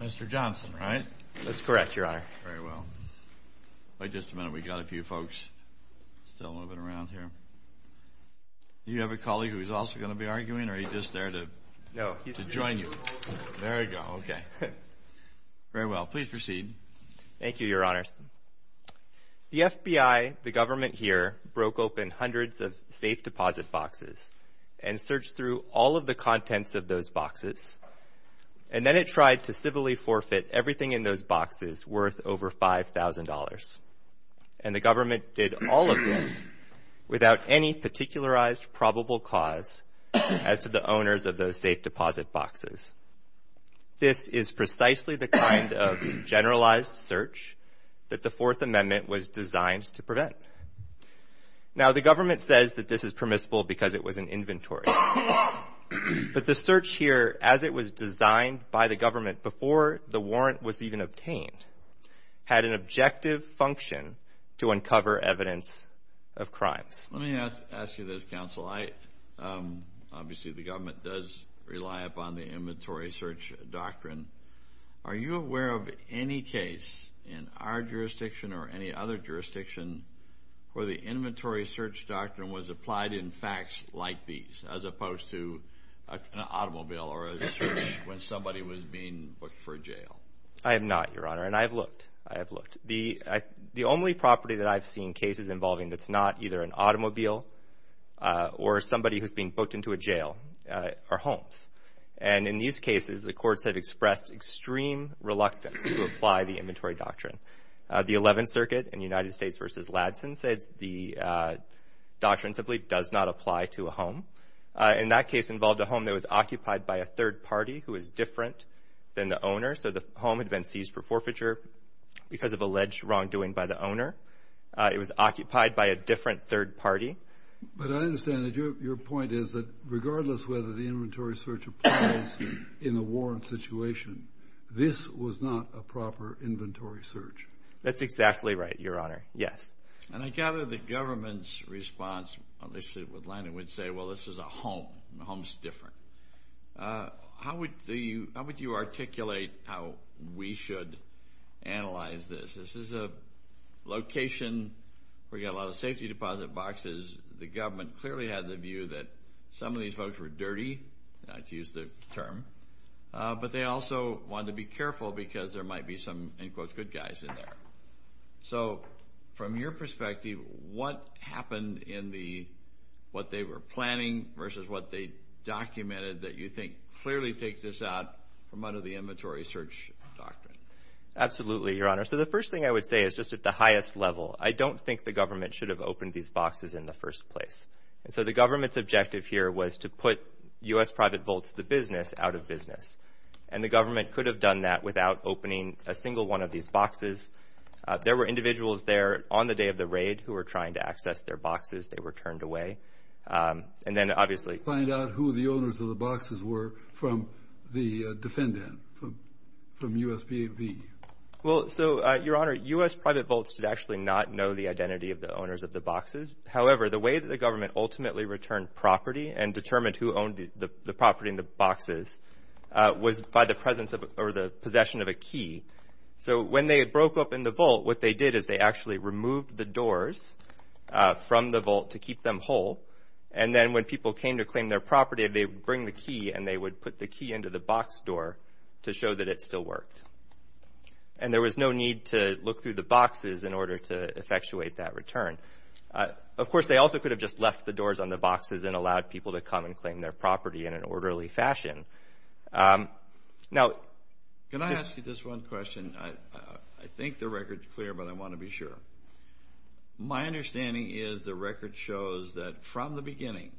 Mr. Johnson, right? That's correct, Your Honor. Very well. In just a minute we've got a few folks still moving around here. Do you have a colleague who is also going to be arguing, or is he just there to join you? No, he's here. There you go. Okay. Very well. Please proceed. Thank you, Your Honors. The FBI, the government here, broke open hundreds of safe deposit boxes and searched through all of the contents of those boxes. And then it tried to civilly forfeit everything in those boxes worth over $5,000. And the government did all of this without any particularized probable cause as to the owners of those safe deposit boxes. This is precisely the kind of generalized search that the Fourth Amendment was designed to prevent. Now, the government says that this is permissible because it was an inventory. But the search here, as it was designed by the government before the warrant was even obtained, had an objective function to uncover evidence of crimes. Let me ask you this, Counsel. Obviously, the government does rely upon the inventory search doctrine. Are you aware of any case in our jurisdiction or any other jurisdiction where the inventory search doctrine was applied in facts like these, as opposed to an automobile or a search when somebody was being booked for jail? I am not, Your Honor. And I have looked. I have looked. The only property that I've seen cases involving that's not either an automobile or somebody who's being booked into a jail are homes. And in these cases, the courts have expressed extreme reluctance to apply the inventory doctrine. The Eleventh Circuit in United States v. Ladson says the doctrine simply does not apply to a home. And that case involved a home that was occupied by a third party who was different than the owner. So the home had been seized for forfeiture because of alleged wrongdoing by the owner. It was occupied by a different third party. But I understand that your point is that regardless whether the inventory search applies in a warrant situation, this was not a proper inventory search. That's exactly right, Your Honor. Yes. And I gather the government's response, at least with Lenin, would say, well, this is a home. The home's different. How would you articulate how we should analyze this? This is a location where you've got a lot of safety deposit boxes. The government clearly had the view that some of these folks were dirty, to use the term. But they also wanted to be careful because there might be some, in quotes, good guys in there. So from your perspective, what happened in the what they were planning versus what they documented that you think clearly takes this out from under the inventory search doctrine? Absolutely, Your Honor. So the first thing I would say is just at the highest level, I don't think the government should have opened these boxes in the first place. And so the government's objective here was to put U.S. private vaults, the business, out of business. And the government could have done that without opening a single one of these boxes. There were individuals there on the day of the raid who were trying to access their boxes. They were turned away. And then, obviously— Find out who the owners of the boxes were from the defendant, from U.S.P.A.V. Well, so, Your Honor, U.S. private vaults did actually not know the identity of the owners of the boxes. However, the way that the government ultimately returned property and determined who owned the property and the boxes was by the presence or the possession of a key. So when they broke open the vault, what they did is they actually removed the doors from the vault to keep them whole. And then when people came to claim their property, they would bring the key, and they would put the key into the box door to show that it still worked. And there was no need to look through the boxes in order to effectuate that return. Of course, they also could have just left the doors on the boxes and allowed people to come and claim their property in an orderly fashion. Now— Can I ask you just one question? I think the record's clear, but I want to be sure. My understanding is the record shows that from the beginning,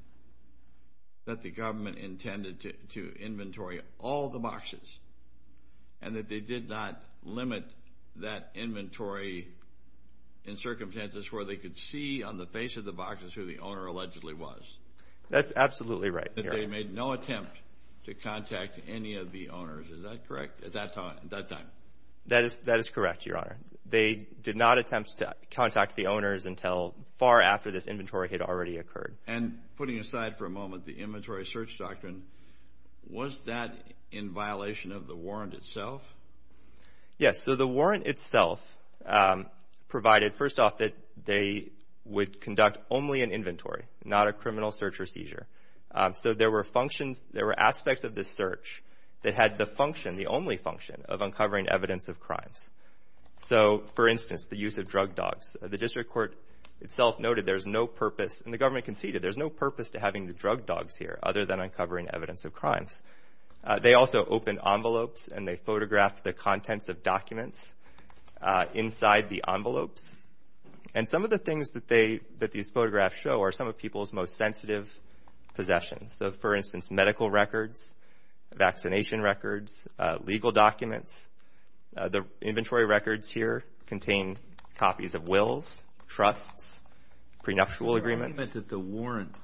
that the government intended to inventory all the boxes and that they did not limit that inventory in circumstances where they could see on the face of the boxes who the owner allegedly was. That's absolutely right, Your Honor. That they made no attempt to contact any of the owners. Is that correct at that time? That is correct, Your Honor. They did not attempt to contact the owners until far after this inventory had already occurred. And putting aside for a moment the inventory search doctrine, was that in violation of the warrant itself? Yes. So the warrant itself provided, first off, that they would conduct only an inventory, not a criminal search or seizure. So there were functions, there were aspects of this search that had the function, the only function, of uncovering evidence of crimes. So, for instance, the use of drug dogs. The district court itself noted there's no purpose, and the government conceded, there's no purpose to having the drug dogs here other than uncovering evidence of crimes. They also opened envelopes and they photographed the contents of documents inside the envelopes. And some of the things that these photographs show are some of people's most sensitive possessions. So, for instance, medical records, vaccination records, legal documents. The inventory records here contain copies of wills, trusts, prenuptial agreements. The argument that the warrant,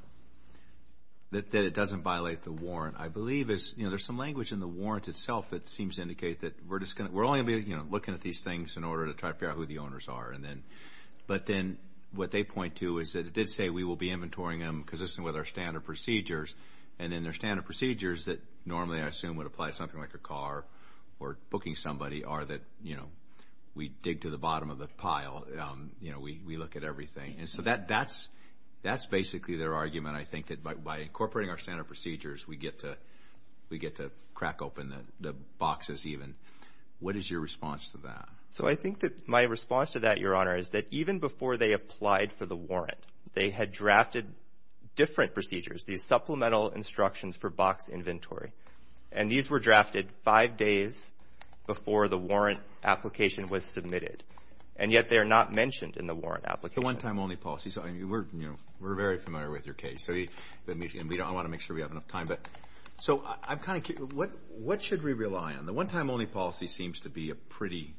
that it doesn't violate the warrant, I believe, is, you know, there's some language in the warrant itself that seems to indicate that we're only going to be, you know, looking at these things in order to try to figure out who the owners are. But then what they point to is that it did say we will be inventorying them consistent with our standard procedures, and then their standard procedures that normally I assume would apply to something like a car or booking somebody are that, you know, we dig to the bottom of the pile, you know, we look at everything. And so that's basically their argument, I think, that by incorporating our standard procedures, we get to crack open the boxes even. What is your response to that? So I think that my response to that, Your Honor, is that even before they applied for the warrant, they had drafted different procedures, these supplemental instructions for box inventory. And these were drafted five days before the warrant application was submitted. And yet they are not mentioned in the warrant application. The one-time-only policy. We're very familiar with your case, and I want to make sure we have enough time. So I'm kind of curious, what should we rely on? The one-time-only policy seems to be a pretty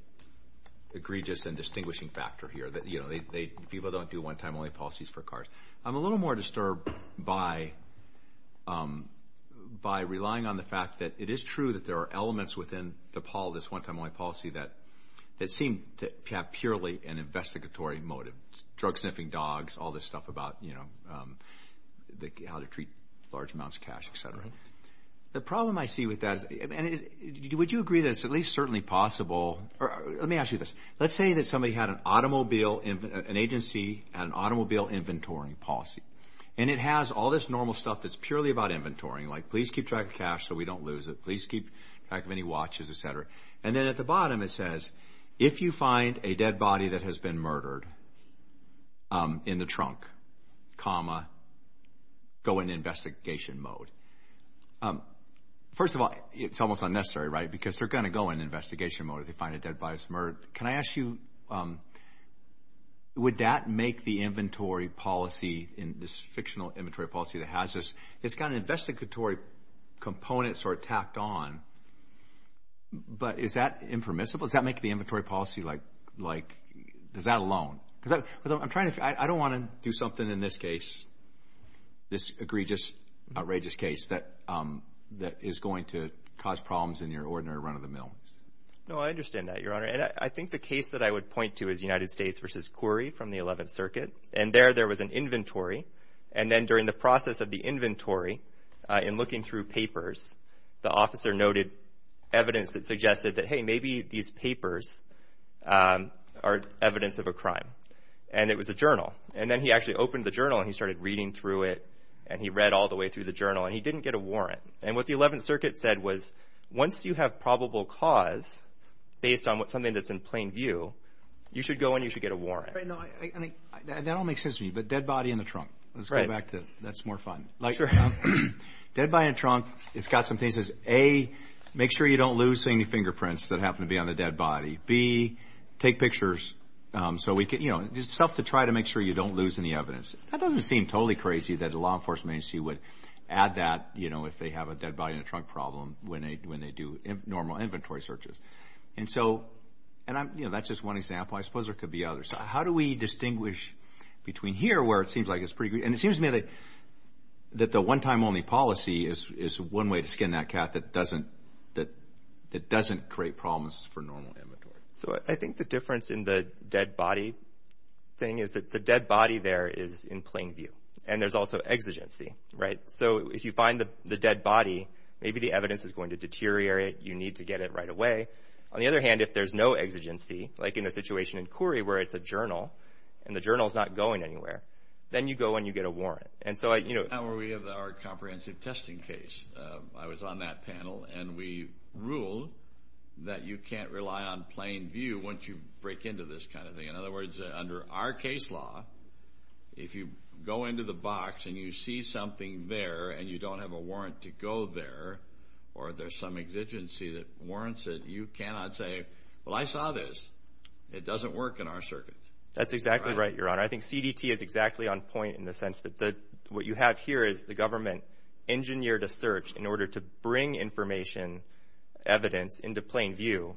egregious and distinguishing factor here. You know, people don't do one-time-only policies for cars. I'm a little more disturbed by relying on the fact that it is true that there are elements within this one-time-only policy that seem to have purely an investigatory motive. Drug-sniffing dogs, all this stuff about, you know, how to treat large amounts of cash, et cetera. The problem I see with that is, would you agree that it's at least certainly possible? Let me ask you this. Let's say that somebody had an agency and an automobile inventory policy, and it has all this normal stuff that's purely about inventorying, like please keep track of cash so we don't lose it, please keep track of any watches, et cetera. And then at the bottom it says, if you find a dead body that has been murdered in the trunk, comma, go into investigation mode. First of all, it's almost unnecessary, right, because they're going to go into investigation mode if they find a dead body that's been murdered. Can I ask you, would that make the inventory policy, this fictional inventory policy that has this, it's got investigatory components sort of tacked on, but is that impermissible? Does that make the inventory policy like, does that alone? Because I'm trying to figure, I don't want to do something in this case, this egregious, outrageous case that is going to cause problems in your ordinary run-of-the-mill. No, I understand that, Your Honor. And I think the case that I would point to is United States v. Quirrey from the 11th Circuit. And there, there was an inventory. And then during the process of the inventory, in looking through papers, the officer noted evidence that suggested that, hey, maybe these papers are evidence of a crime. And it was a journal. And then he actually opened the journal, and he started reading through it, and he read all the way through the journal, and he didn't get a warrant. And what the 11th Circuit said was, once you have probable cause, based on something that's in plain view, you should go and you should get a warrant. That all makes sense to me, but dead body in the trunk. Let's go back to, that's more fun. Sure. Dead body in the trunk, it's got some things. It says, A, make sure you don't lose any fingerprints that happen to be on the dead body. B, take pictures so we can, you know, stuff to try to make sure you don't lose any evidence. That doesn't seem totally crazy that a law enforcement agency would add that, you know, if they have a dead body in the trunk problem when they do normal inventory searches. And so, and I'm, you know, that's just one example. I suppose there could be others. How do we distinguish between here, where it seems like it's pretty, and it seems to me that the one-time only policy is one way to skin that cat that doesn't, that doesn't create problems for normal inventory. So I think the difference in the dead body thing is that the dead body there is in plain view, and there's also exigency, right? So if you find the dead body, maybe the evidence is going to deteriorate. You need to get it right away. On the other hand, if there's no exigency, like in the situation in Koorie where it's a journal and the journal's not going anywhere, then you go and you get a warrant. And so I, you know. Now we have our comprehensive testing case. I was on that panel, and we ruled that you can't rely on plain view once you break into this kind of thing. In other words, under our case law, if you go into the box and you see something there and you don't have a warrant to go there or there's some exigency that warrants it, you cannot say, well, I saw this. It doesn't work in our circuit. That's exactly right, Your Honor. I think CDT is exactly on point in the sense that what you have here is the government engineered a search in order to bring information, evidence, into plain view.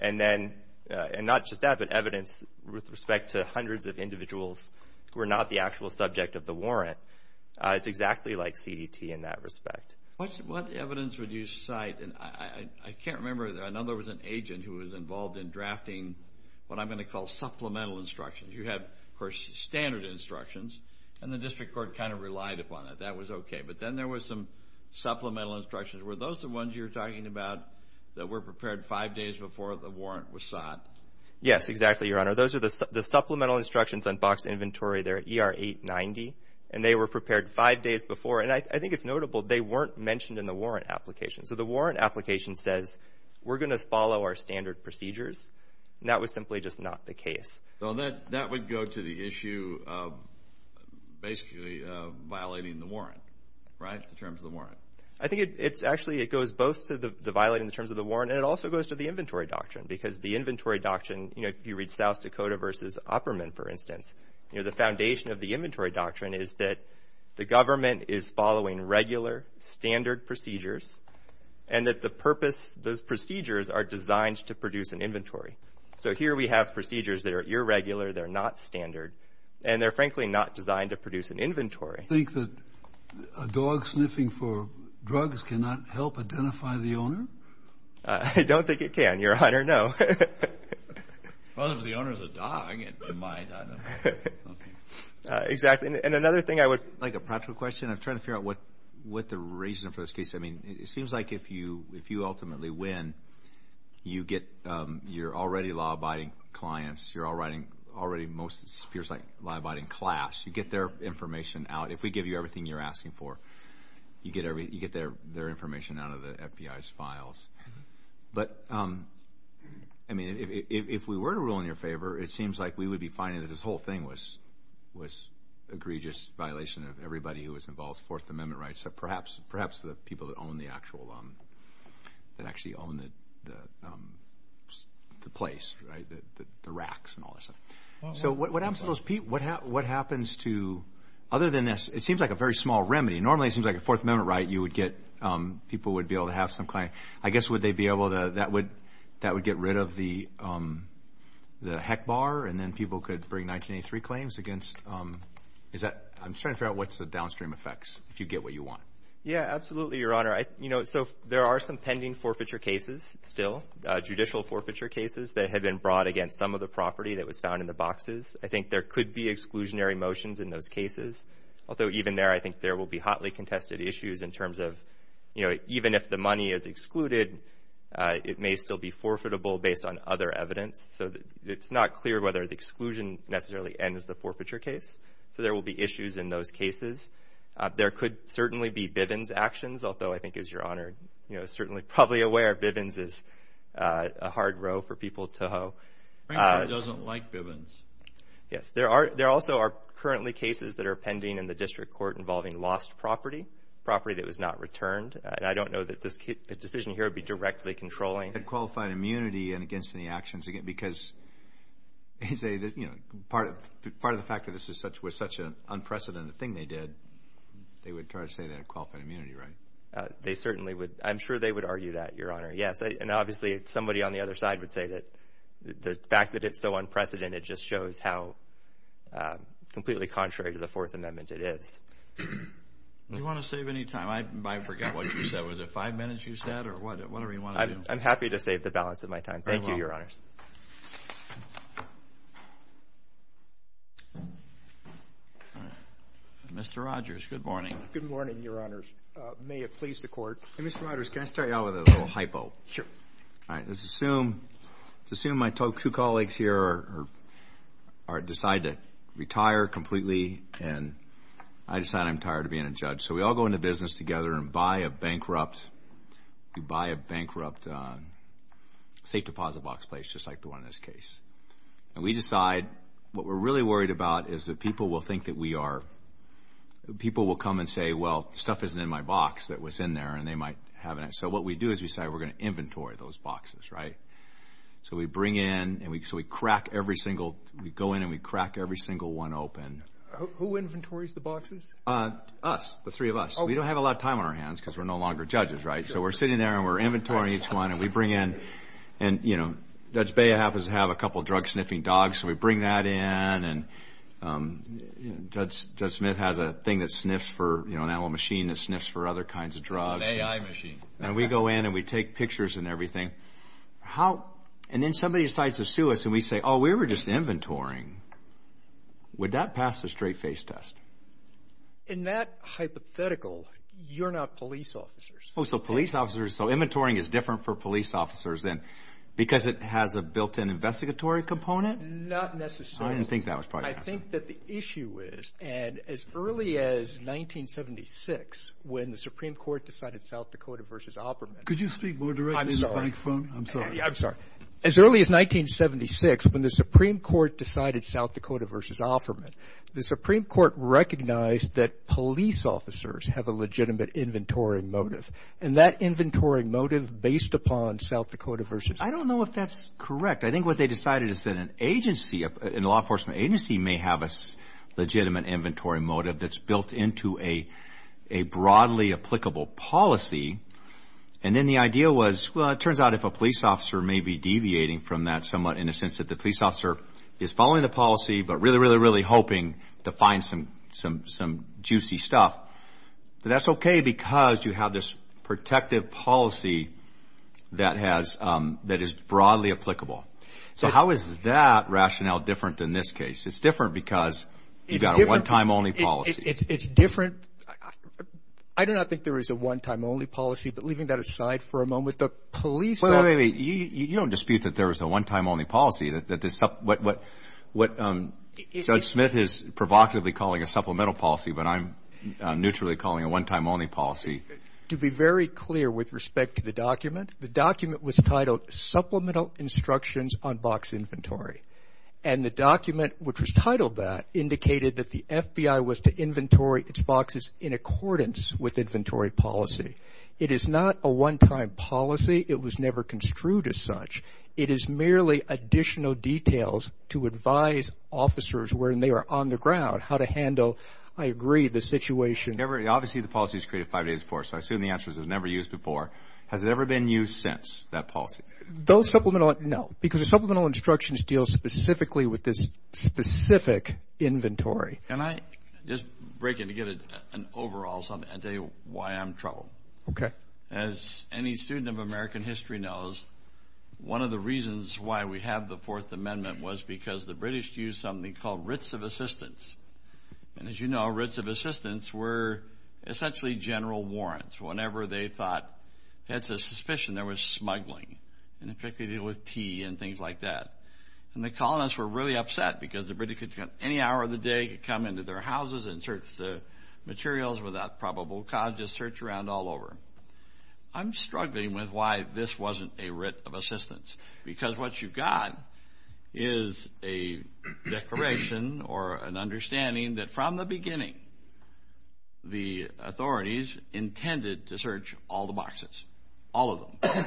And then, and not just that, but evidence with respect to hundreds of individuals who are not the actual subject of the warrant. It's exactly like CDT in that respect. What evidence would you cite? And I can't remember. I know there was an agent who was involved in drafting what I'm going to call supplemental instructions. You have, of course, standard instructions, and the district court kind of relied upon it. That was okay. But then there was some supplemental instructions. Were those the ones you were talking about that were prepared five days before the warrant was sought? Yes, exactly, Your Honor. Those are the supplemental instructions on box inventory. They're at ER 890, and they were prepared five days before. And I think it's notable they weren't mentioned in the warrant application. So the warrant application says we're going to follow our standard procedures, and that was simply just not the case. That would go to the issue of basically violating the warrant, right, the terms of the warrant? I think it's actually, it goes both to the violating the terms of the warrant, and it also goes to the inventory doctrine because the inventory doctrine, you know, if you read South Dakota v. Opperman, for instance, you know, the foundation of the inventory doctrine is that the government is following regular, standard procedures, and that the purpose, those procedures are designed to produce an inventory. So here we have procedures that are irregular, they're not standard, and they're frankly not designed to produce an inventory. Do you think that a dog sniffing for drugs cannot help identify the owner? I don't think it can, Your Honor, no. Well, if the owner is a dog, it might. Exactly. And another thing I would like a practical question. I'm trying to figure out what the reason for this case. I mean, it seems like if you ultimately win, you're already law-abiding clients. You're already most, it appears like, law-abiding class. You get their information out. If we give you everything you're asking for, you get their information out of the FBI's files. But, I mean, if we were to rule in your favor, it seems like we would be finding that this whole thing was a egregious violation of everybody who was involved, Fourth Amendment rights, so perhaps the people that own the actual, that actually own the place, right, the racks and all this. So what happens to those people? What happens to, other than this, it seems like a very small remedy. Normally, it seems like a Fourth Amendment right, you would get, people would be able to have some claim. I guess would they be able to, that would get rid of the heck bar, and then people could bring 1983 claims against, is that, I'm just trying to figure out what's the downstream effects, if you get what you want. Yeah, absolutely, Your Honor. You know, so there are some pending forfeiture cases still, judicial forfeiture cases, that have been brought against some of the property that was found in the boxes. I think there could be exclusionary motions in those cases. Although, even there, I think there will be hotly contested issues in terms of, you know, even if the money is excluded, it may still be forfeitable based on other evidence. So it's not clear whether the exclusion necessarily ends the forfeiture case. So there will be issues in those cases. There could certainly be Bivens actions, although I think, as Your Honor, you know, it's a hard row for people to hoe. Franklin doesn't like Bivens. Yes. There also are currently cases that are pending in the district court involving lost property, property that was not returned. And I don't know that this decision here would be directly controlling. And qualified immunity against any actions, because, you know, part of the fact that this was such an unprecedented thing they did, they would try to say they had qualified immunity, right? They certainly would. I'm sure they would argue that, Your Honor, yes. And obviously somebody on the other side would say that the fact that it's so unprecedented just shows how completely contrary to the Fourth Amendment it is. Do you want to save any time? I forgot what you said. Was it five minutes you said or whatever you want to do? I'm happy to save the balance of my time. Thank you, Your Honors. Mr. Rogers, good morning. Good morning, Your Honors. May it please the Court. Hey, Mr. Rogers, can I start you off with a little hypo? Sure. All right, let's assume my two colleagues here decide to retire completely and I decide I'm tired of being a judge. So we all go into business together and buy a bankrupt safe deposit box place, just like the one in this case. And we decide what we're really worried about is that people will think that we are, people will come and say, well, stuff isn't in my box that was in there and they might have it. So what we do is we decide we're going to inventory those boxes, right? So we bring in and we crack every single, we go in and we crack every single one open. Who inventories the boxes? Us, the three of us. We don't have a lot of time on our hands because we're no longer judges, right? So we're sitting there and we're inventorying each one and we bring in, and, you know, Judge Bea happens to have a couple of drug-sniffing dogs, so we bring that in and Judge Smith has a thing that sniffs for, you know, an animal machine that sniffs for other kinds of drugs. It's an AI machine. And we go in and we take pictures and everything. And then somebody decides to sue us and we say, oh, we were just inventorying. Would that pass the straight-face test? In that hypothetical, you're not police officers. Oh, so police officers, so inventorying is different for police officers than because it has a built-in investigatory component? Not necessarily. I didn't think that was probably going to happen. I think that the issue is, and as early as 1976, when the Supreme Court decided South Dakota v. Offerman. Could you speak more directly to the microphone? I'm sorry. I'm sorry. As early as 1976, when the Supreme Court decided South Dakota v. Offerman, the Supreme Court recognized that police officers have a legitimate inventory motive. And that inventory motive based upon South Dakota v. Offerman. I don't know if that's correct. I think what they decided is that an agency, a law enforcement agency, may have a legitimate inventory motive that's built into a broadly applicable policy. And then the idea was, well, it turns out if a police officer may be deviating from that somewhat in the sense that the police officer is following the policy but really, really, really hoping to find some juicy stuff, that that's okay because you have this protective policy that is broadly applicable. So how is that rationale different than this case? It's different because you've got a one-time-only policy. It's different. I do not think there is a one-time-only policy. But leaving that aside for a moment, the police. Wait a minute. You don't dispute that there is a one-time-only policy. Judge Smith is provocatively calling a supplemental policy, but I'm neutrally calling a one-time-only policy. To be very clear with respect to the document, the document was titled Supplemental Instructions on Box Inventory. And the document which was titled that indicated that the FBI was to inventory its boxes in accordance with inventory policy. It is not a one-time policy. It was never construed as such. It is merely additional details to advise officers when they are on the ground how to handle, I agree, the situation. Obviously, the policy is created five days before. So I assume the answer is it was never used before. Has it ever been used since, that policy? Those supplemental, no. Because the supplemental instructions deal specifically with this specific inventory. Can I just break in to get an overall something? I'll tell you why I'm troubled. Okay. As any student of American history knows, one of the reasons why we have the Fourth Amendment was because the British used something called writs of assistance. And as you know, writs of assistance were essentially general warrants. Whenever they thought that's a suspicion, there was smuggling. And, in fact, they did it with tea and things like that. And the colonists were really upset because the British could come any hour of the day, come into their houses and search the materials without probable cause, just search around all over. I'm struggling with why this wasn't a writ of assistance. Because what you've got is a declaration or an understanding that, from the beginning, the authorities intended to search all the boxes, all of them.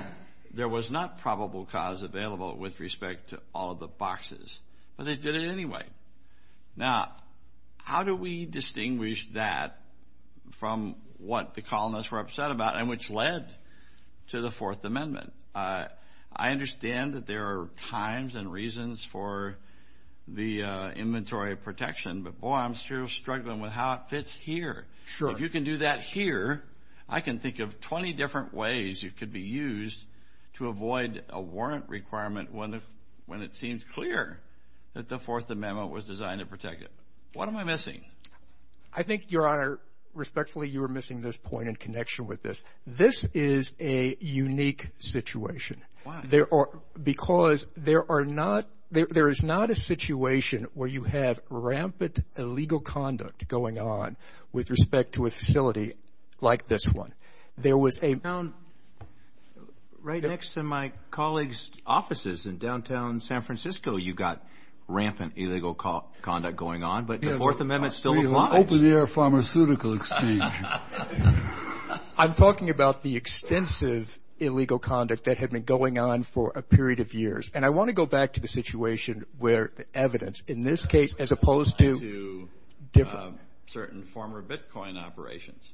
There was not probable cause available with respect to all of the boxes. But they did it anyway. Now, how do we distinguish that from what the colonists were upset about and which led to the Fourth Amendment? I understand that there are times and reasons for the inventory protection, but, boy, I'm still struggling with how it fits here. If you can do that here, I can think of 20 different ways it could be used to avoid a warrant requirement when it seems clear that the Fourth Amendment was designed to protect it. What am I missing? I think, Your Honor, respectfully, you are missing this point in connection with this. This is a unique situation. Why? Because there is not a situation where you have rampant illegal conduct going on with respect to a facility like this one. Right next to my colleague's offices in downtown San Francisco, you've got rampant illegal conduct going on, but the Fourth Amendment still applies. Open-air pharmaceutical exchange. I'm talking about the extensive illegal conduct that had been going on for a period of years. And I want to go back to the situation where the evidence, in this case, as opposed to different. Certain former Bitcoin operations.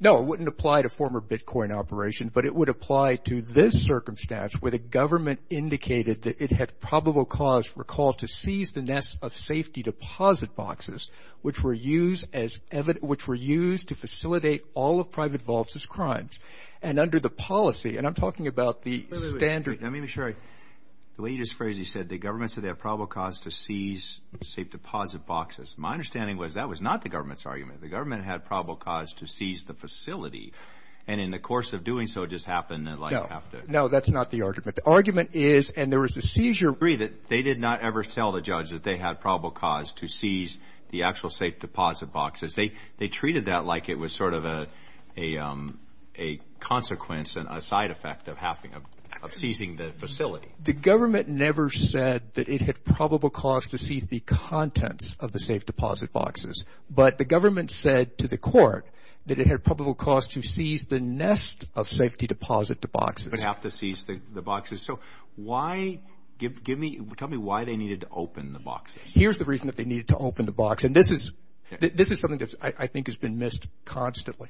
No, it wouldn't apply to former Bitcoin operations, but it would apply to this circumstance where the government indicated that it had probable cause, recall, to seize the nest of safety deposit boxes, which were used to facilitate all of private vaults as crimes. And under the policy, and I'm talking about the standard. Let me make sure. The way you just phrased it, you said the government said they had probable cause to seize safe deposit boxes. My understanding was that was not the government's argument. The government had probable cause to seize the facility. And in the course of doing so, it just happened that like half the. No, that's not the argument. The argument is, and there was a seizure. They did not ever tell the judge that they had probable cause to seize the actual safe deposit boxes. They treated that like it was sort of a consequence and a side effect of having, of seizing the facility. The government never said that it had probable cause to seize the contents of the safe deposit boxes. But the government said to the court that it had probable cause to seize the nest of safety deposit boxes. But half the seized the boxes. So why? Tell me why they needed to open the boxes. Here's the reason that they needed to open the box. And this is something that I think has been missed constantly.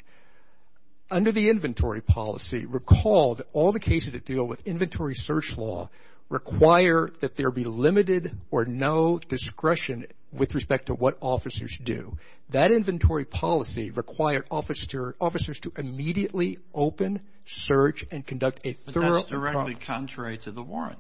Under the inventory policy, recall that all the cases that deal with inventory search law require that there be limited or no discretion with respect to what officers do. That inventory policy required officers to immediately open, search, and conduct a thorough. But that's directly contrary to the warrant.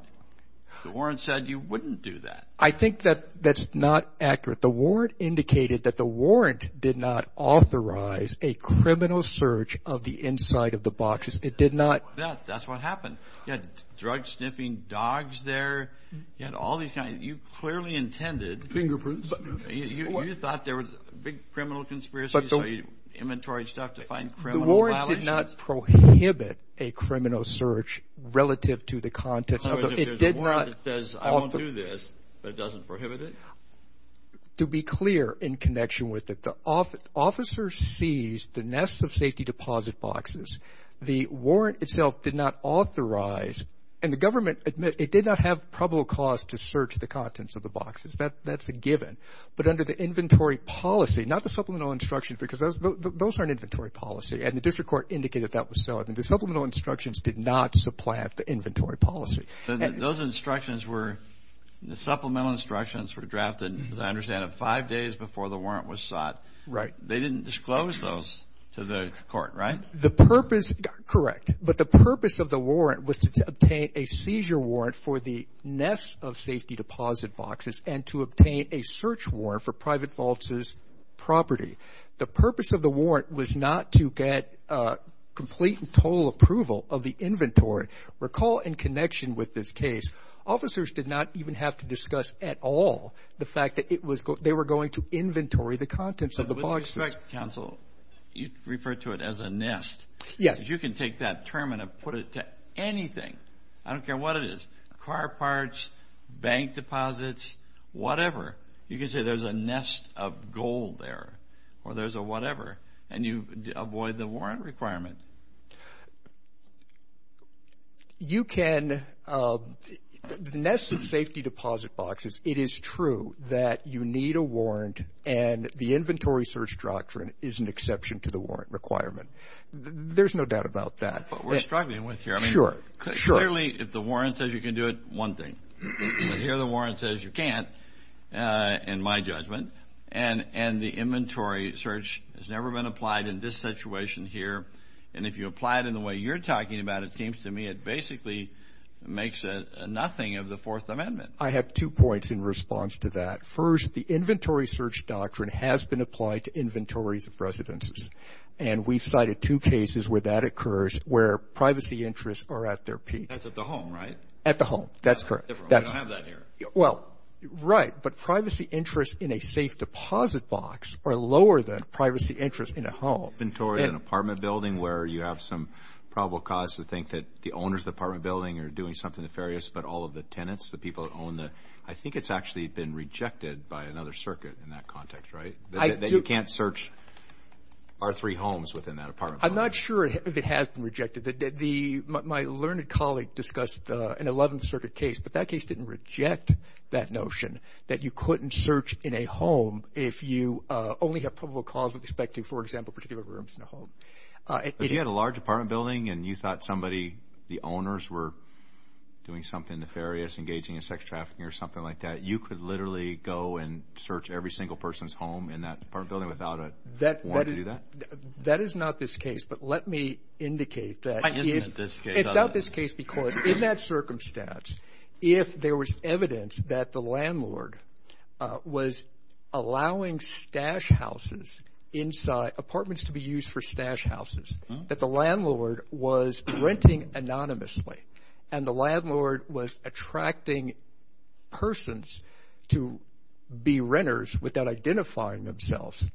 The warrant said you wouldn't do that. I think that that's not accurate. The warrant indicated that the warrant did not authorize a criminal search of the inside of the boxes. It did not. That's what happened. You had drug sniffing dogs there. You had all these kinds. You clearly intended. Fingerprints. You thought there was a big criminal conspiracy. Inventory stuff to find criminal violations. The warrant did not prohibit a criminal search relative to the contents. In other words, if there's a warrant that says, I won't do this, but it doesn't prohibit it? To be clear in connection with it, the officer seized the nest of safety deposit boxes. The warrant itself did not authorize. And the government admits it did not have probable cause to search the contents of the boxes. That's a given. But under the inventory policy, not the supplemental instructions, because those are an inventory policy, and the district court indicated that was so. The supplemental instructions did not supplant the inventory policy. Those instructions were the supplemental instructions were drafted, as I understand it, five days before the warrant was sought. Right. They didn't disclose those to the court, right? The purpose, correct. But the purpose of the warrant was to obtain a seizure warrant for the nest of safety deposit boxes and to obtain a search warrant for private falses property. The purpose of the warrant was not to get complete and total approval of the inventory. Recall in connection with this case, officers did not even have to discuss at all the fact that they were going to inventory the contents of the boxes. With respect, counsel, you referred to it as a nest. Yes. Because you can take that term and put it to anything. I don't care what it is, car parts, bank deposits, whatever. You can say there's a nest of gold there or there's a whatever, and you avoid the warrant requirement. You can nest safety deposit boxes. It is true that you need a warrant, and the inventory search doctrine is an exception to the warrant requirement. There's no doubt about that. But we're struggling with here. Sure. Clearly, if the warrant says you can do it, one thing. But here the warrant says you can't, in my judgment, and the inventory search has never been applied in this situation here. And if you apply it in the way you're talking about, it seems to me it basically makes it nothing of the Fourth Amendment. I have two points in response to that. First, the inventory search doctrine has been applied to inventories of residences, and we've cited two cases where that occurs where privacy interests are at their peak. That's at the home, right? At the home. That's correct. We don't have that here. Well, right. But privacy interests in a safe deposit box are lower than privacy interests in a home. Inventory in an apartment building where you have some probable cause to think that the owners of the apartment building are doing something nefarious about all of the tenants, the people that own the ‑‑ I think it's actually been rejected by another circuit in that context, right? That you can't search our three homes within that apartment building. I'm not sure if it has been rejected. My learned colleague discussed an 11th Circuit case, but that case didn't reject that notion that you couldn't search in a home if you only have probable cause with respect to, for example, particular rooms in a home. If you had a large apartment building and you thought somebody, the owners, were doing something nefarious, engaging in sex trafficking or something like that, you could literally go and search every single person's home in that apartment building without a warrant to do that? That is not this case, but let me indicate that. It's not this case. It's not this case because in that circumstance, if there was evidence that the landlord was allowing stash houses inside, apartments to be used for stash houses, that the landlord was renting anonymously and the landlord was attracting persons to be renters without identifying themselves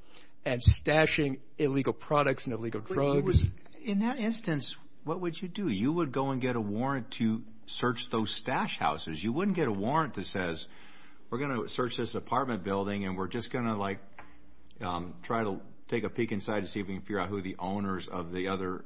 and stashing illegal products and illegal drugs. In that instance, what would you do? You would go and get a warrant to search those stash houses. You wouldn't get a warrant that says, we're going to search this apartment building and we're just going to, like, try to take a peek inside to see if we can figure out who the owners of the other.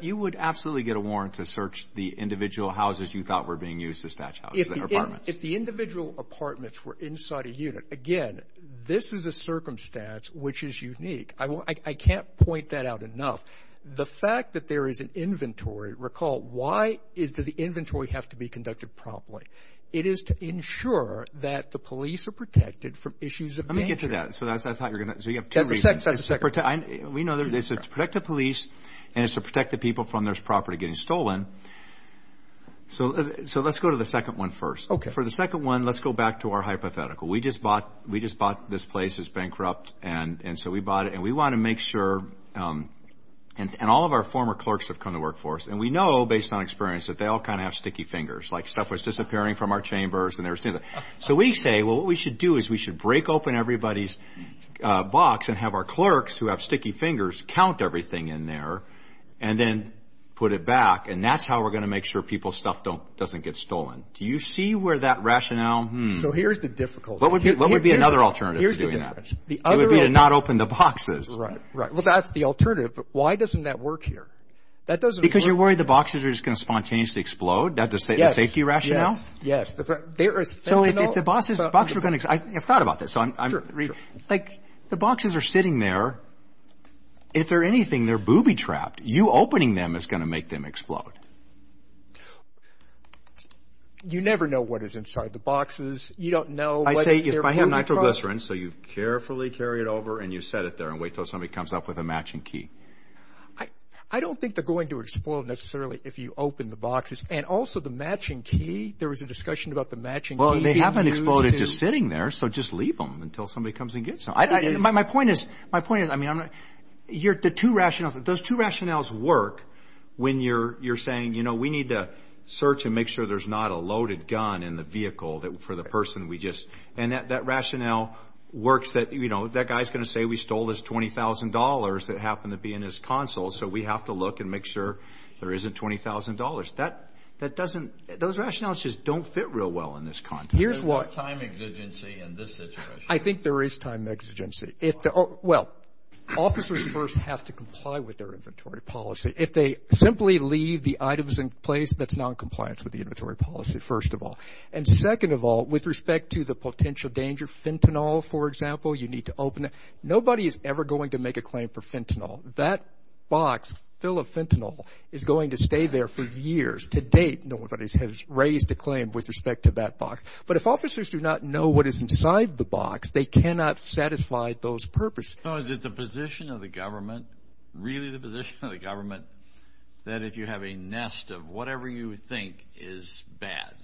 You would absolutely get a warrant to search the individual houses you thought were being used as stash houses or apartments. If the individual apartments were inside a unit, again, this is a circumstance which is unique. I can't point that out enough. The fact that there is an inventory, recall, why does the inventory have to be conducted promptly? It is to ensure that the police are protected from issues of danger. Let me get to that. So you have two reasons. That's the second. We know it's to protect the police and it's to protect the people from their property getting stolen. So let's go to the second one first. Okay. For the second one, let's go back to our hypothetical. We just bought this place. It's bankrupt, and so we bought it. And we want to make sure, and all of our former clerks have come to work for us, and we know based on experience that they all kind of have sticky fingers, like stuff was disappearing from our chambers. So we say, well, what we should do is we should break open everybody's box and have our clerks who have sticky fingers count everything in there and then put it back, and that's how we're going to make sure people's stuff doesn't get stolen. Do you see where that rationale? So here's the difficulty. What would be another alternative to doing that? Here's the difference. It would be to not open the boxes. Right. Well, that's the alternative, but why doesn't that work here? Because you're worried the boxes are just going to spontaneously explode? That's a safety rationale? Yes, yes. So if the boxes are going to – I've thought about this. Like the boxes are sitting there. If they're anything, they're booby-trapped. You opening them is going to make them explode. You never know what is inside the boxes. You don't know. I say if I have nitroglycerin, so you carefully carry it over, and you set it there and wait until somebody comes up with a matching key. I don't think they're going to explode necessarily if you open the boxes. And also the matching key, there was a discussion about the matching key. Well, they haven't exploded just sitting there, so just leave them until somebody comes and gets them. My point is, I mean, the two rationales, those two rationales work when you're saying, you know, we need to search and make sure there's not a loaded gun in the vehicle for the person we just – and that rationale works that, you know, that guy's going to say we stole his $20,000 that happened to be in his console, so we have to look and make sure there isn't $20,000. That doesn't – those rationales just don't fit real well in this context. There's no time exigency in this situation. I think there is time exigency. Well, officers first have to comply with their inventory policy. If they simply leave the items in place, that's noncompliance with the inventory policy, first of all. And second of all, with respect to the potential danger, fentanyl, for example, you need to open it. Nobody is ever going to make a claim for fentanyl. That box full of fentanyl is going to stay there for years to date. Nobody has raised a claim with respect to that box. But if officers do not know what is inside the box, they cannot satisfy those purposes. So is it the position of the government, really the position of the government, that if you have a nest of whatever you think is bad,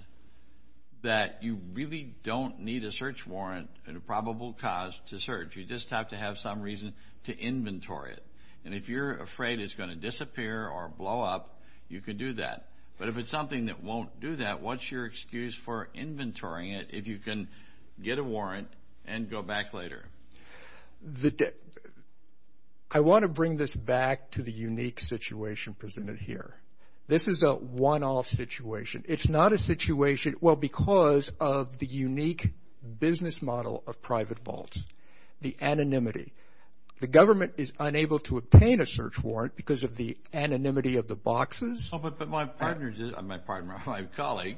that you really don't need a search warrant and a probable cause to search. You just have to have some reason to inventory it. And if you're afraid it's going to disappear or blow up, you can do that. But if it's something that won't do that, what's your excuse for inventorying it if you can get a warrant and go back later? I want to bring this back to the unique situation presented here. This is a one-off situation. It's not a situation, well, because of the unique business model of private vaults. The anonymity. The government is unable to obtain a search warrant because of the anonymity of the boxes. But my partner, my colleague,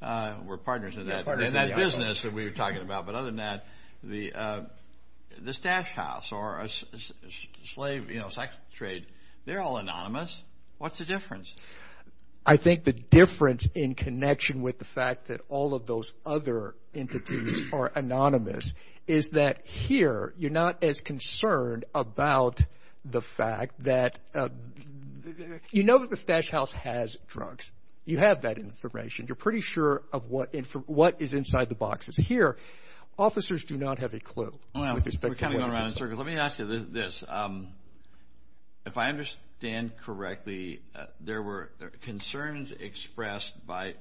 we're partners in that business that we were talking about. But other than that, the stash house or a slave, you know, sex trade, they're all anonymous. What's the difference? I think the difference in connection with the fact that all of those other entities are anonymous is that here you're not as concerned about the fact that you know that the stash house has drugs. You have that information. You're pretty sure of what is inside the boxes. Here, officers do not have a clue. We're kind of going around in circles. Let me ask you this. If I understand correctly, there were concerns expressed by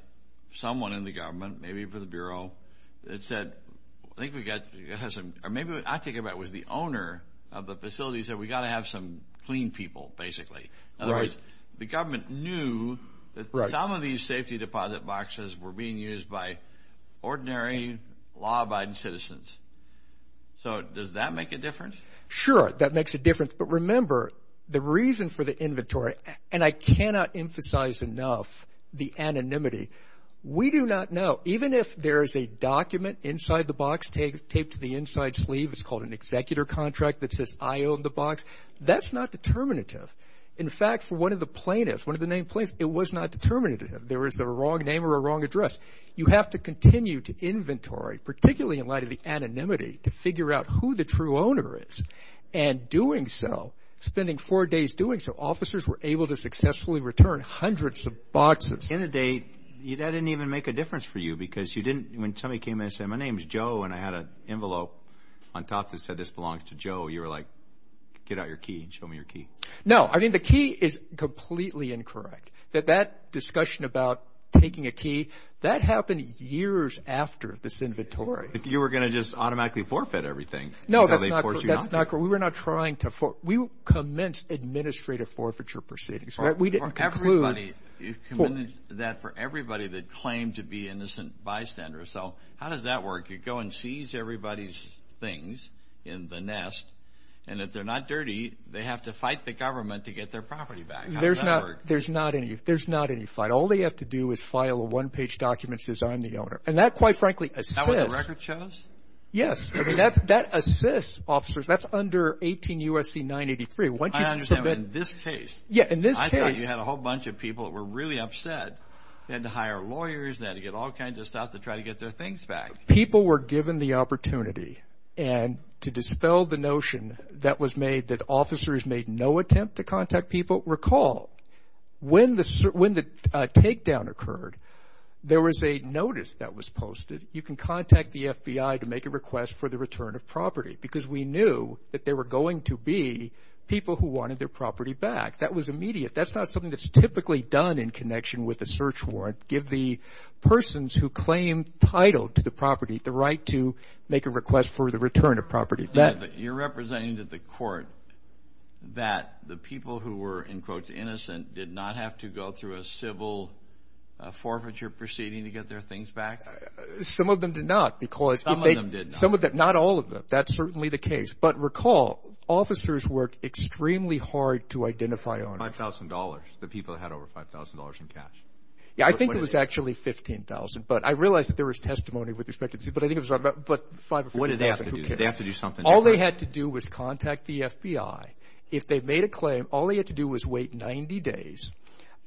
someone in the government, maybe for the Bureau, that said, I think we've got to have some, or maybe what I'm thinking about was the owner of the facility said, we've got to have some clean people, basically. In other words, the government knew that some of these safety deposit boxes were being used by ordinary law-abiding citizens. So does that make a difference? Sure, that makes a difference. But remember, the reason for the inventory, and I cannot emphasize enough the anonymity. We do not know. Even if there is a document inside the box taped to the inside sleeve, it's called an executor contract that says, I own the box, that's not determinative. In fact, for one of the plaintiffs, one of the named plaintiffs, it was not determinative. There was a wrong name or a wrong address. You have to continue to inventory, particularly in light of the anonymity, to figure out who the true owner is. And doing so, spending four days doing so, officers were able to successfully return hundreds of boxes. At the end of the day, that didn't even make a difference for you, because when somebody came in and said, my name is Joe, and I had an envelope on top that said, this belongs to Joe, you were like, get out your key and show me your key. No, I mean the key is completely incorrect. That discussion about taking a key, that happened years after this inventory. You were going to just automatically forfeit everything. No, that's not correct. We were not trying to forfeit. We commenced administrative forfeiture proceedings. We didn't conclude. You committed that for everybody that claimed to be innocent bystanders. So how does that work? You go and seize everybody's things in the nest, and if they're not dirty, they have to fight the government to get their property back. How does that work? There's not any. There's not any fight. All they have to do is file a one-page document that says I'm the owner. And that, quite frankly, assists. Is that what the record shows? Yes. I mean, that assists officers. That's under 18 U.S.C. 983. I understand, but in this case. Yeah, in this case. I thought you had a whole bunch of people that were really upset. They had to hire lawyers. They had to get all kinds of stuff to try to get their things back. People were given the opportunity, and to dispel the notion that was made that officers made no attempt to contact people, recall when the takedown occurred, there was a notice that was posted, you can contact the FBI to make a request for the return of property because we knew that there were going to be people who wanted their property back. That was immediate. That's not something that's typically done in connection with a search warrant. Give the persons who claim title to the property the right to make a request for the return of property. You're representing to the court that the people who were, in quotes, innocent did not have to go through a civil forfeiture proceeding to get their things back? Some of them did not. Some of them did not. Some of them, not all of them. That's certainly the case. But recall, officers worked extremely hard to identify on it. $5,000, the people that had over $5,000 in cash. Yeah, I think it was actually $15,000, but I realize that there was testimony with respect to this. But I think it was about $5,000 or $15,000. What did they have to do? Did they have to do something different? All they had to do was contact the FBI. If they made a claim, all they had to do was wait 90 days.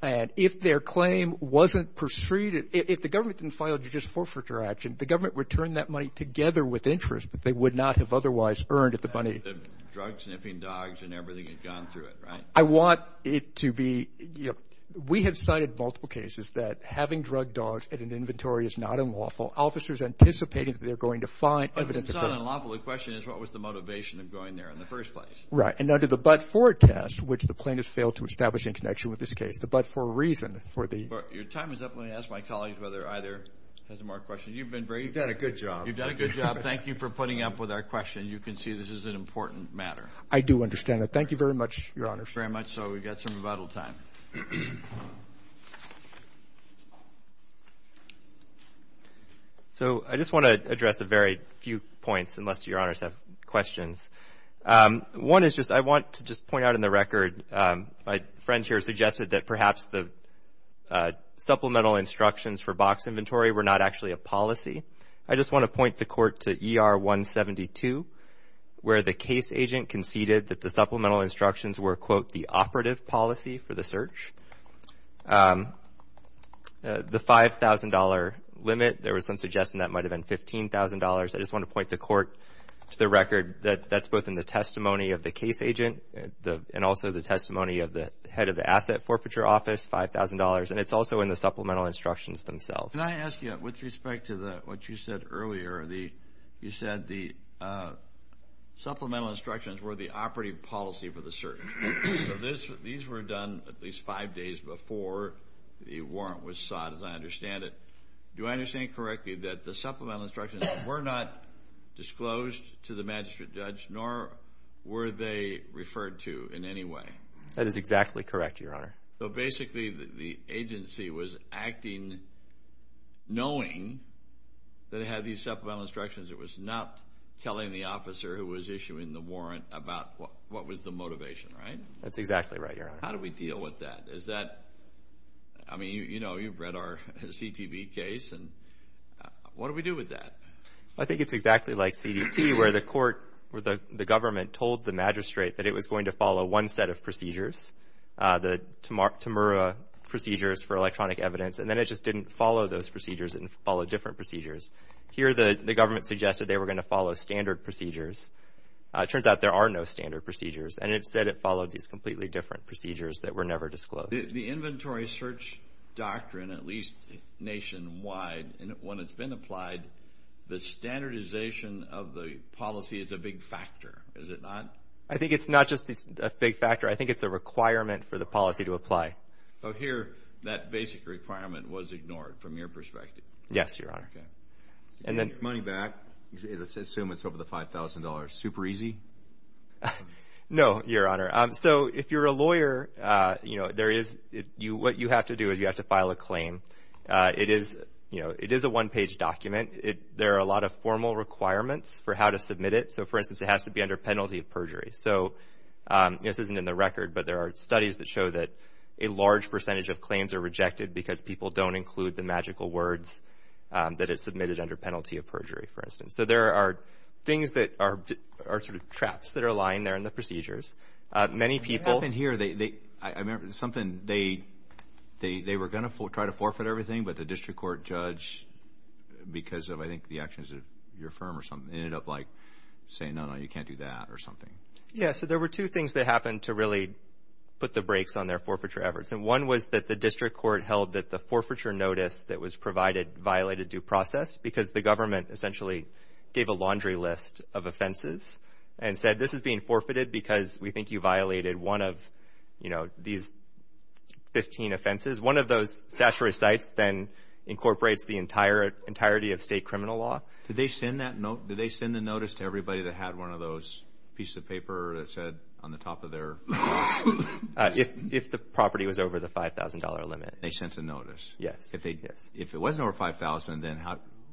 And if their claim wasn't pursued, if the government didn't file a judicial forfeiture action, the government would turn that money together with interest that they would not have otherwise earned if the money. Drug-sniffing dogs and everything had gone through it, right? I want it to be. We have cited multiple cases that having drug dogs in an inventory is not unlawful. Officers are anticipating that they're going to find evidence. It's not unlawful. The question is what was the motivation of going there in the first place? Right. And under the but-for test, which the plaintiffs failed to establish in connection with this case, the but-for reason for the... Your time is up. Let me ask my colleagues whether either has a more question. You've been very... You've done a good job. You've done a good job. Thank you for putting up with our question. You can see this is an important matter. I do understand it. Thank you very much, Your Honors. Thank you very much. So we've got some rebuttal time. So I just want to address a very few points, unless Your Honors have questions. One is just I want to just point out in the record, my friend here suggested that perhaps the supplemental instructions for box inventory were not actually a policy. I just want to point the Court to ER 172, where the case agent conceded that the supplemental instructions were, quote, the operative policy for the search. The $5,000 limit, there was some suggestion that might have been $15,000. I just want to point the Court to the record that that's both in the testimony of the case agent and also the testimony of the head of the asset forfeiture office, $5,000, and it's also in the supplemental instructions themselves. Can I ask you, with respect to what you said earlier, you said the supplemental instructions were the operative policy for the search. So these were done at least five days before the warrant was sought, as I understand it. Do I understand correctly that the supplemental instructions were not disclosed to the magistrate judge, nor were they referred to in any way? That is exactly correct, Your Honor. So basically the agency was acting knowing that it had these supplemental instructions. It was not telling the officer who was issuing the warrant about what was the motivation, right? That's exactly right, Your Honor. How do we deal with that? I mean, you know, you've read our CTV case. What do we do with that? I think it's exactly like CDT, where the Court or the government told the magistrate that it was going to follow one set of procedures, the Temura procedures for electronic evidence, and then it just didn't follow those procedures, it didn't follow different procedures. Here the government suggested they were going to follow standard procedures. It turns out there are no standard procedures, and it said it followed these completely different procedures that were never disclosed. The inventory search doctrine, at least nationwide, when it's been applied, the standardization of the policy is a big factor, is it not? I think it's not just a big factor. I think it's a requirement for the policy to apply. So here that basic requirement was ignored from your perspective? Yes, Your Honor. And then money back, let's assume it's over the $5,000, super easy? No, Your Honor. If you're a lawyer, what you have to do is you have to file a claim. It is a one-page document. There are a lot of formal requirements for how to submit it. For instance, it has to be under penalty of perjury. This isn't in the record, but there are studies that show that a large percentage of claims are rejected because people don't include the magical words that it submitted under penalty of perjury, for instance. So there are things that are sort of traps that are lying there in the procedures. What happened here, I remember something, they were going to try to forfeit everything, but the district court judge, because of I think the actions of your firm or something, ended up like saying, no, no, you can't do that or something. Yes, so there were two things that happened to really put the brakes on their forfeiture efforts. And one was that the district court held that the forfeiture notice that was provided violated due process because the government essentially gave a laundry list of offenses and said, this is being forfeited because we think you violated one of these 15 offenses. One of those statutory sites then incorporates the entirety of state criminal law. Did they send the notice to everybody that had one of those pieces of paper that said on the top of their notes? If the property was over the $5,000 limit. They sent a notice? Yes. If it wasn't over $5,000, then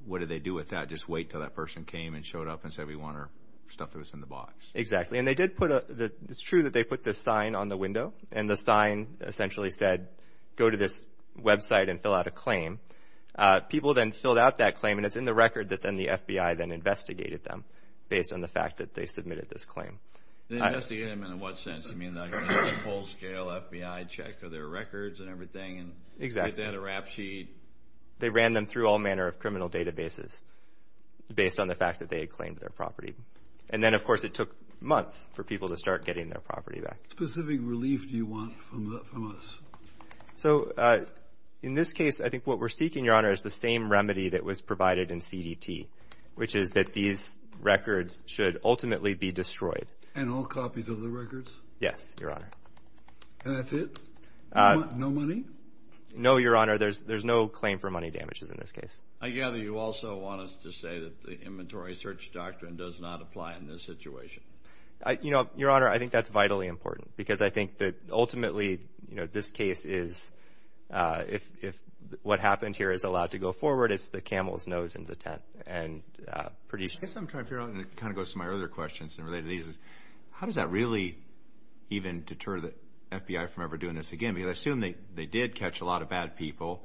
what did they do with that? Just wait until that person came and showed up and said, we want our stuff that was in the box. Exactly. And it's true that they put this sign on the window, and the sign essentially said, go to this website and fill out a claim. People then filled out that claim, and it's in the record that then the FBI then investigated them, based on the fact that they submitted this claim. Investigate them in what sense? You mean like a full-scale FBI check of their records and everything? Exactly. They ran them through all manner of criminal databases, based on the fact that they had claimed their property. And then, of course, it took months for people to start getting their property back. What specific relief do you want from us? So in this case, I think what we're seeking, Your Honor, is the same remedy that was provided in CDT, which is that these records should ultimately be destroyed. And all copies of the records? Yes, Your Honor. And that's it? No money? No, Your Honor. There's no claim for money damages in this case. I gather you also want us to say that the inventory search doctrine does not apply in this situation. You know, Your Honor, I think that's vitally important, because I think that ultimately this case is, if what happened here is allowed to go forward, it's the camel's nose in the tent. I guess what I'm trying to figure out, and it kind of goes to my other questions related to these, is how does that really even deter the FBI from ever doing this again? I mean, I assume they did catch a lot of bad people.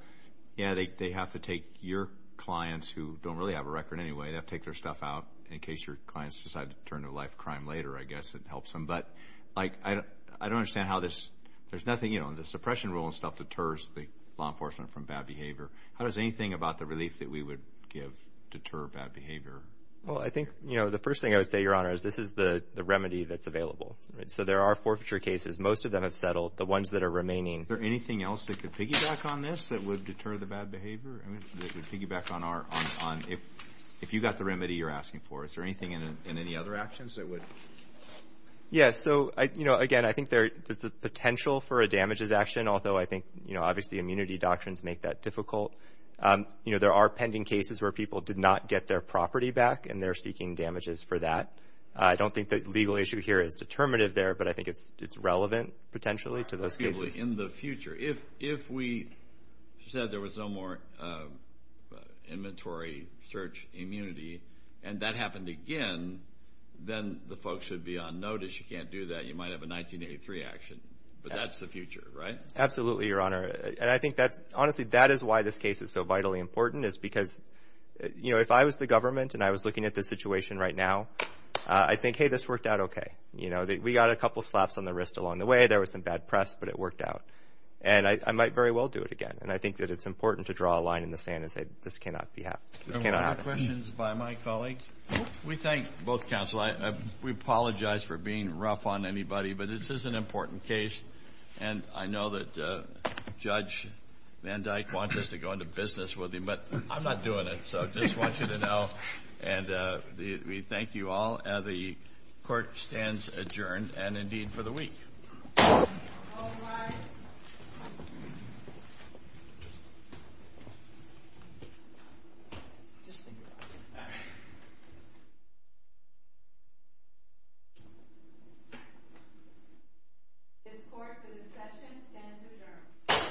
Yeah, they have to take your clients, who don't really have a record anyway, they have to take their stuff out in case your clients decide to turn to life crime later, I guess it helps them. But, like, I don't understand how this, there's nothing, you know, the suppression rule and stuff deters the law enforcement from bad behavior. How does anything about the relief that we would give deter bad behavior? Well, I think, you know, the first thing I would say, Your Honor, is this is the remedy that's available. So there are forfeiture cases. Most of them have settled. The ones that are remaining. Is there anything else that could piggyback on this that would deter the bad behavior? That could piggyback on if you got the remedy you're asking for. Is there anything in any other actions that would? Yeah, so, you know, again, I think there's the potential for a damages action, although I think, you know, obviously immunity doctrines make that difficult. You know, there are pending cases where people did not get their property back, and they're seeking damages for that. I don't think the legal issue here is determinative there, but I think it's relevant potentially to those cases. In the future. If we said there was no more inventory search immunity and that happened again, then the folks should be on notice. You can't do that. You might have a 1983 action. But that's the future, right? Absolutely, Your Honor. And I think that's, honestly, that is why this case is so vitally important is because, you know, if I was the government and I was looking at the situation right now, I'd think, hey, this worked out okay. You know, we got a couple slaps on the wrist along the way. There was some bad press, but it worked out. And I might very well do it again. And I think that it's important to draw a line in the sand and say this cannot be happened. This cannot happen. We have questions by my colleagues. We thank both counsel. We apologize for being rough on anybody, but this is an important case. And I know that Judge Van Dyke wants us to go into business with him, but I'm not doing it. So I just want you to know, and we thank you all. The court stands adjourned, and indeed for the week. All rise. This court for the session stands adjourned.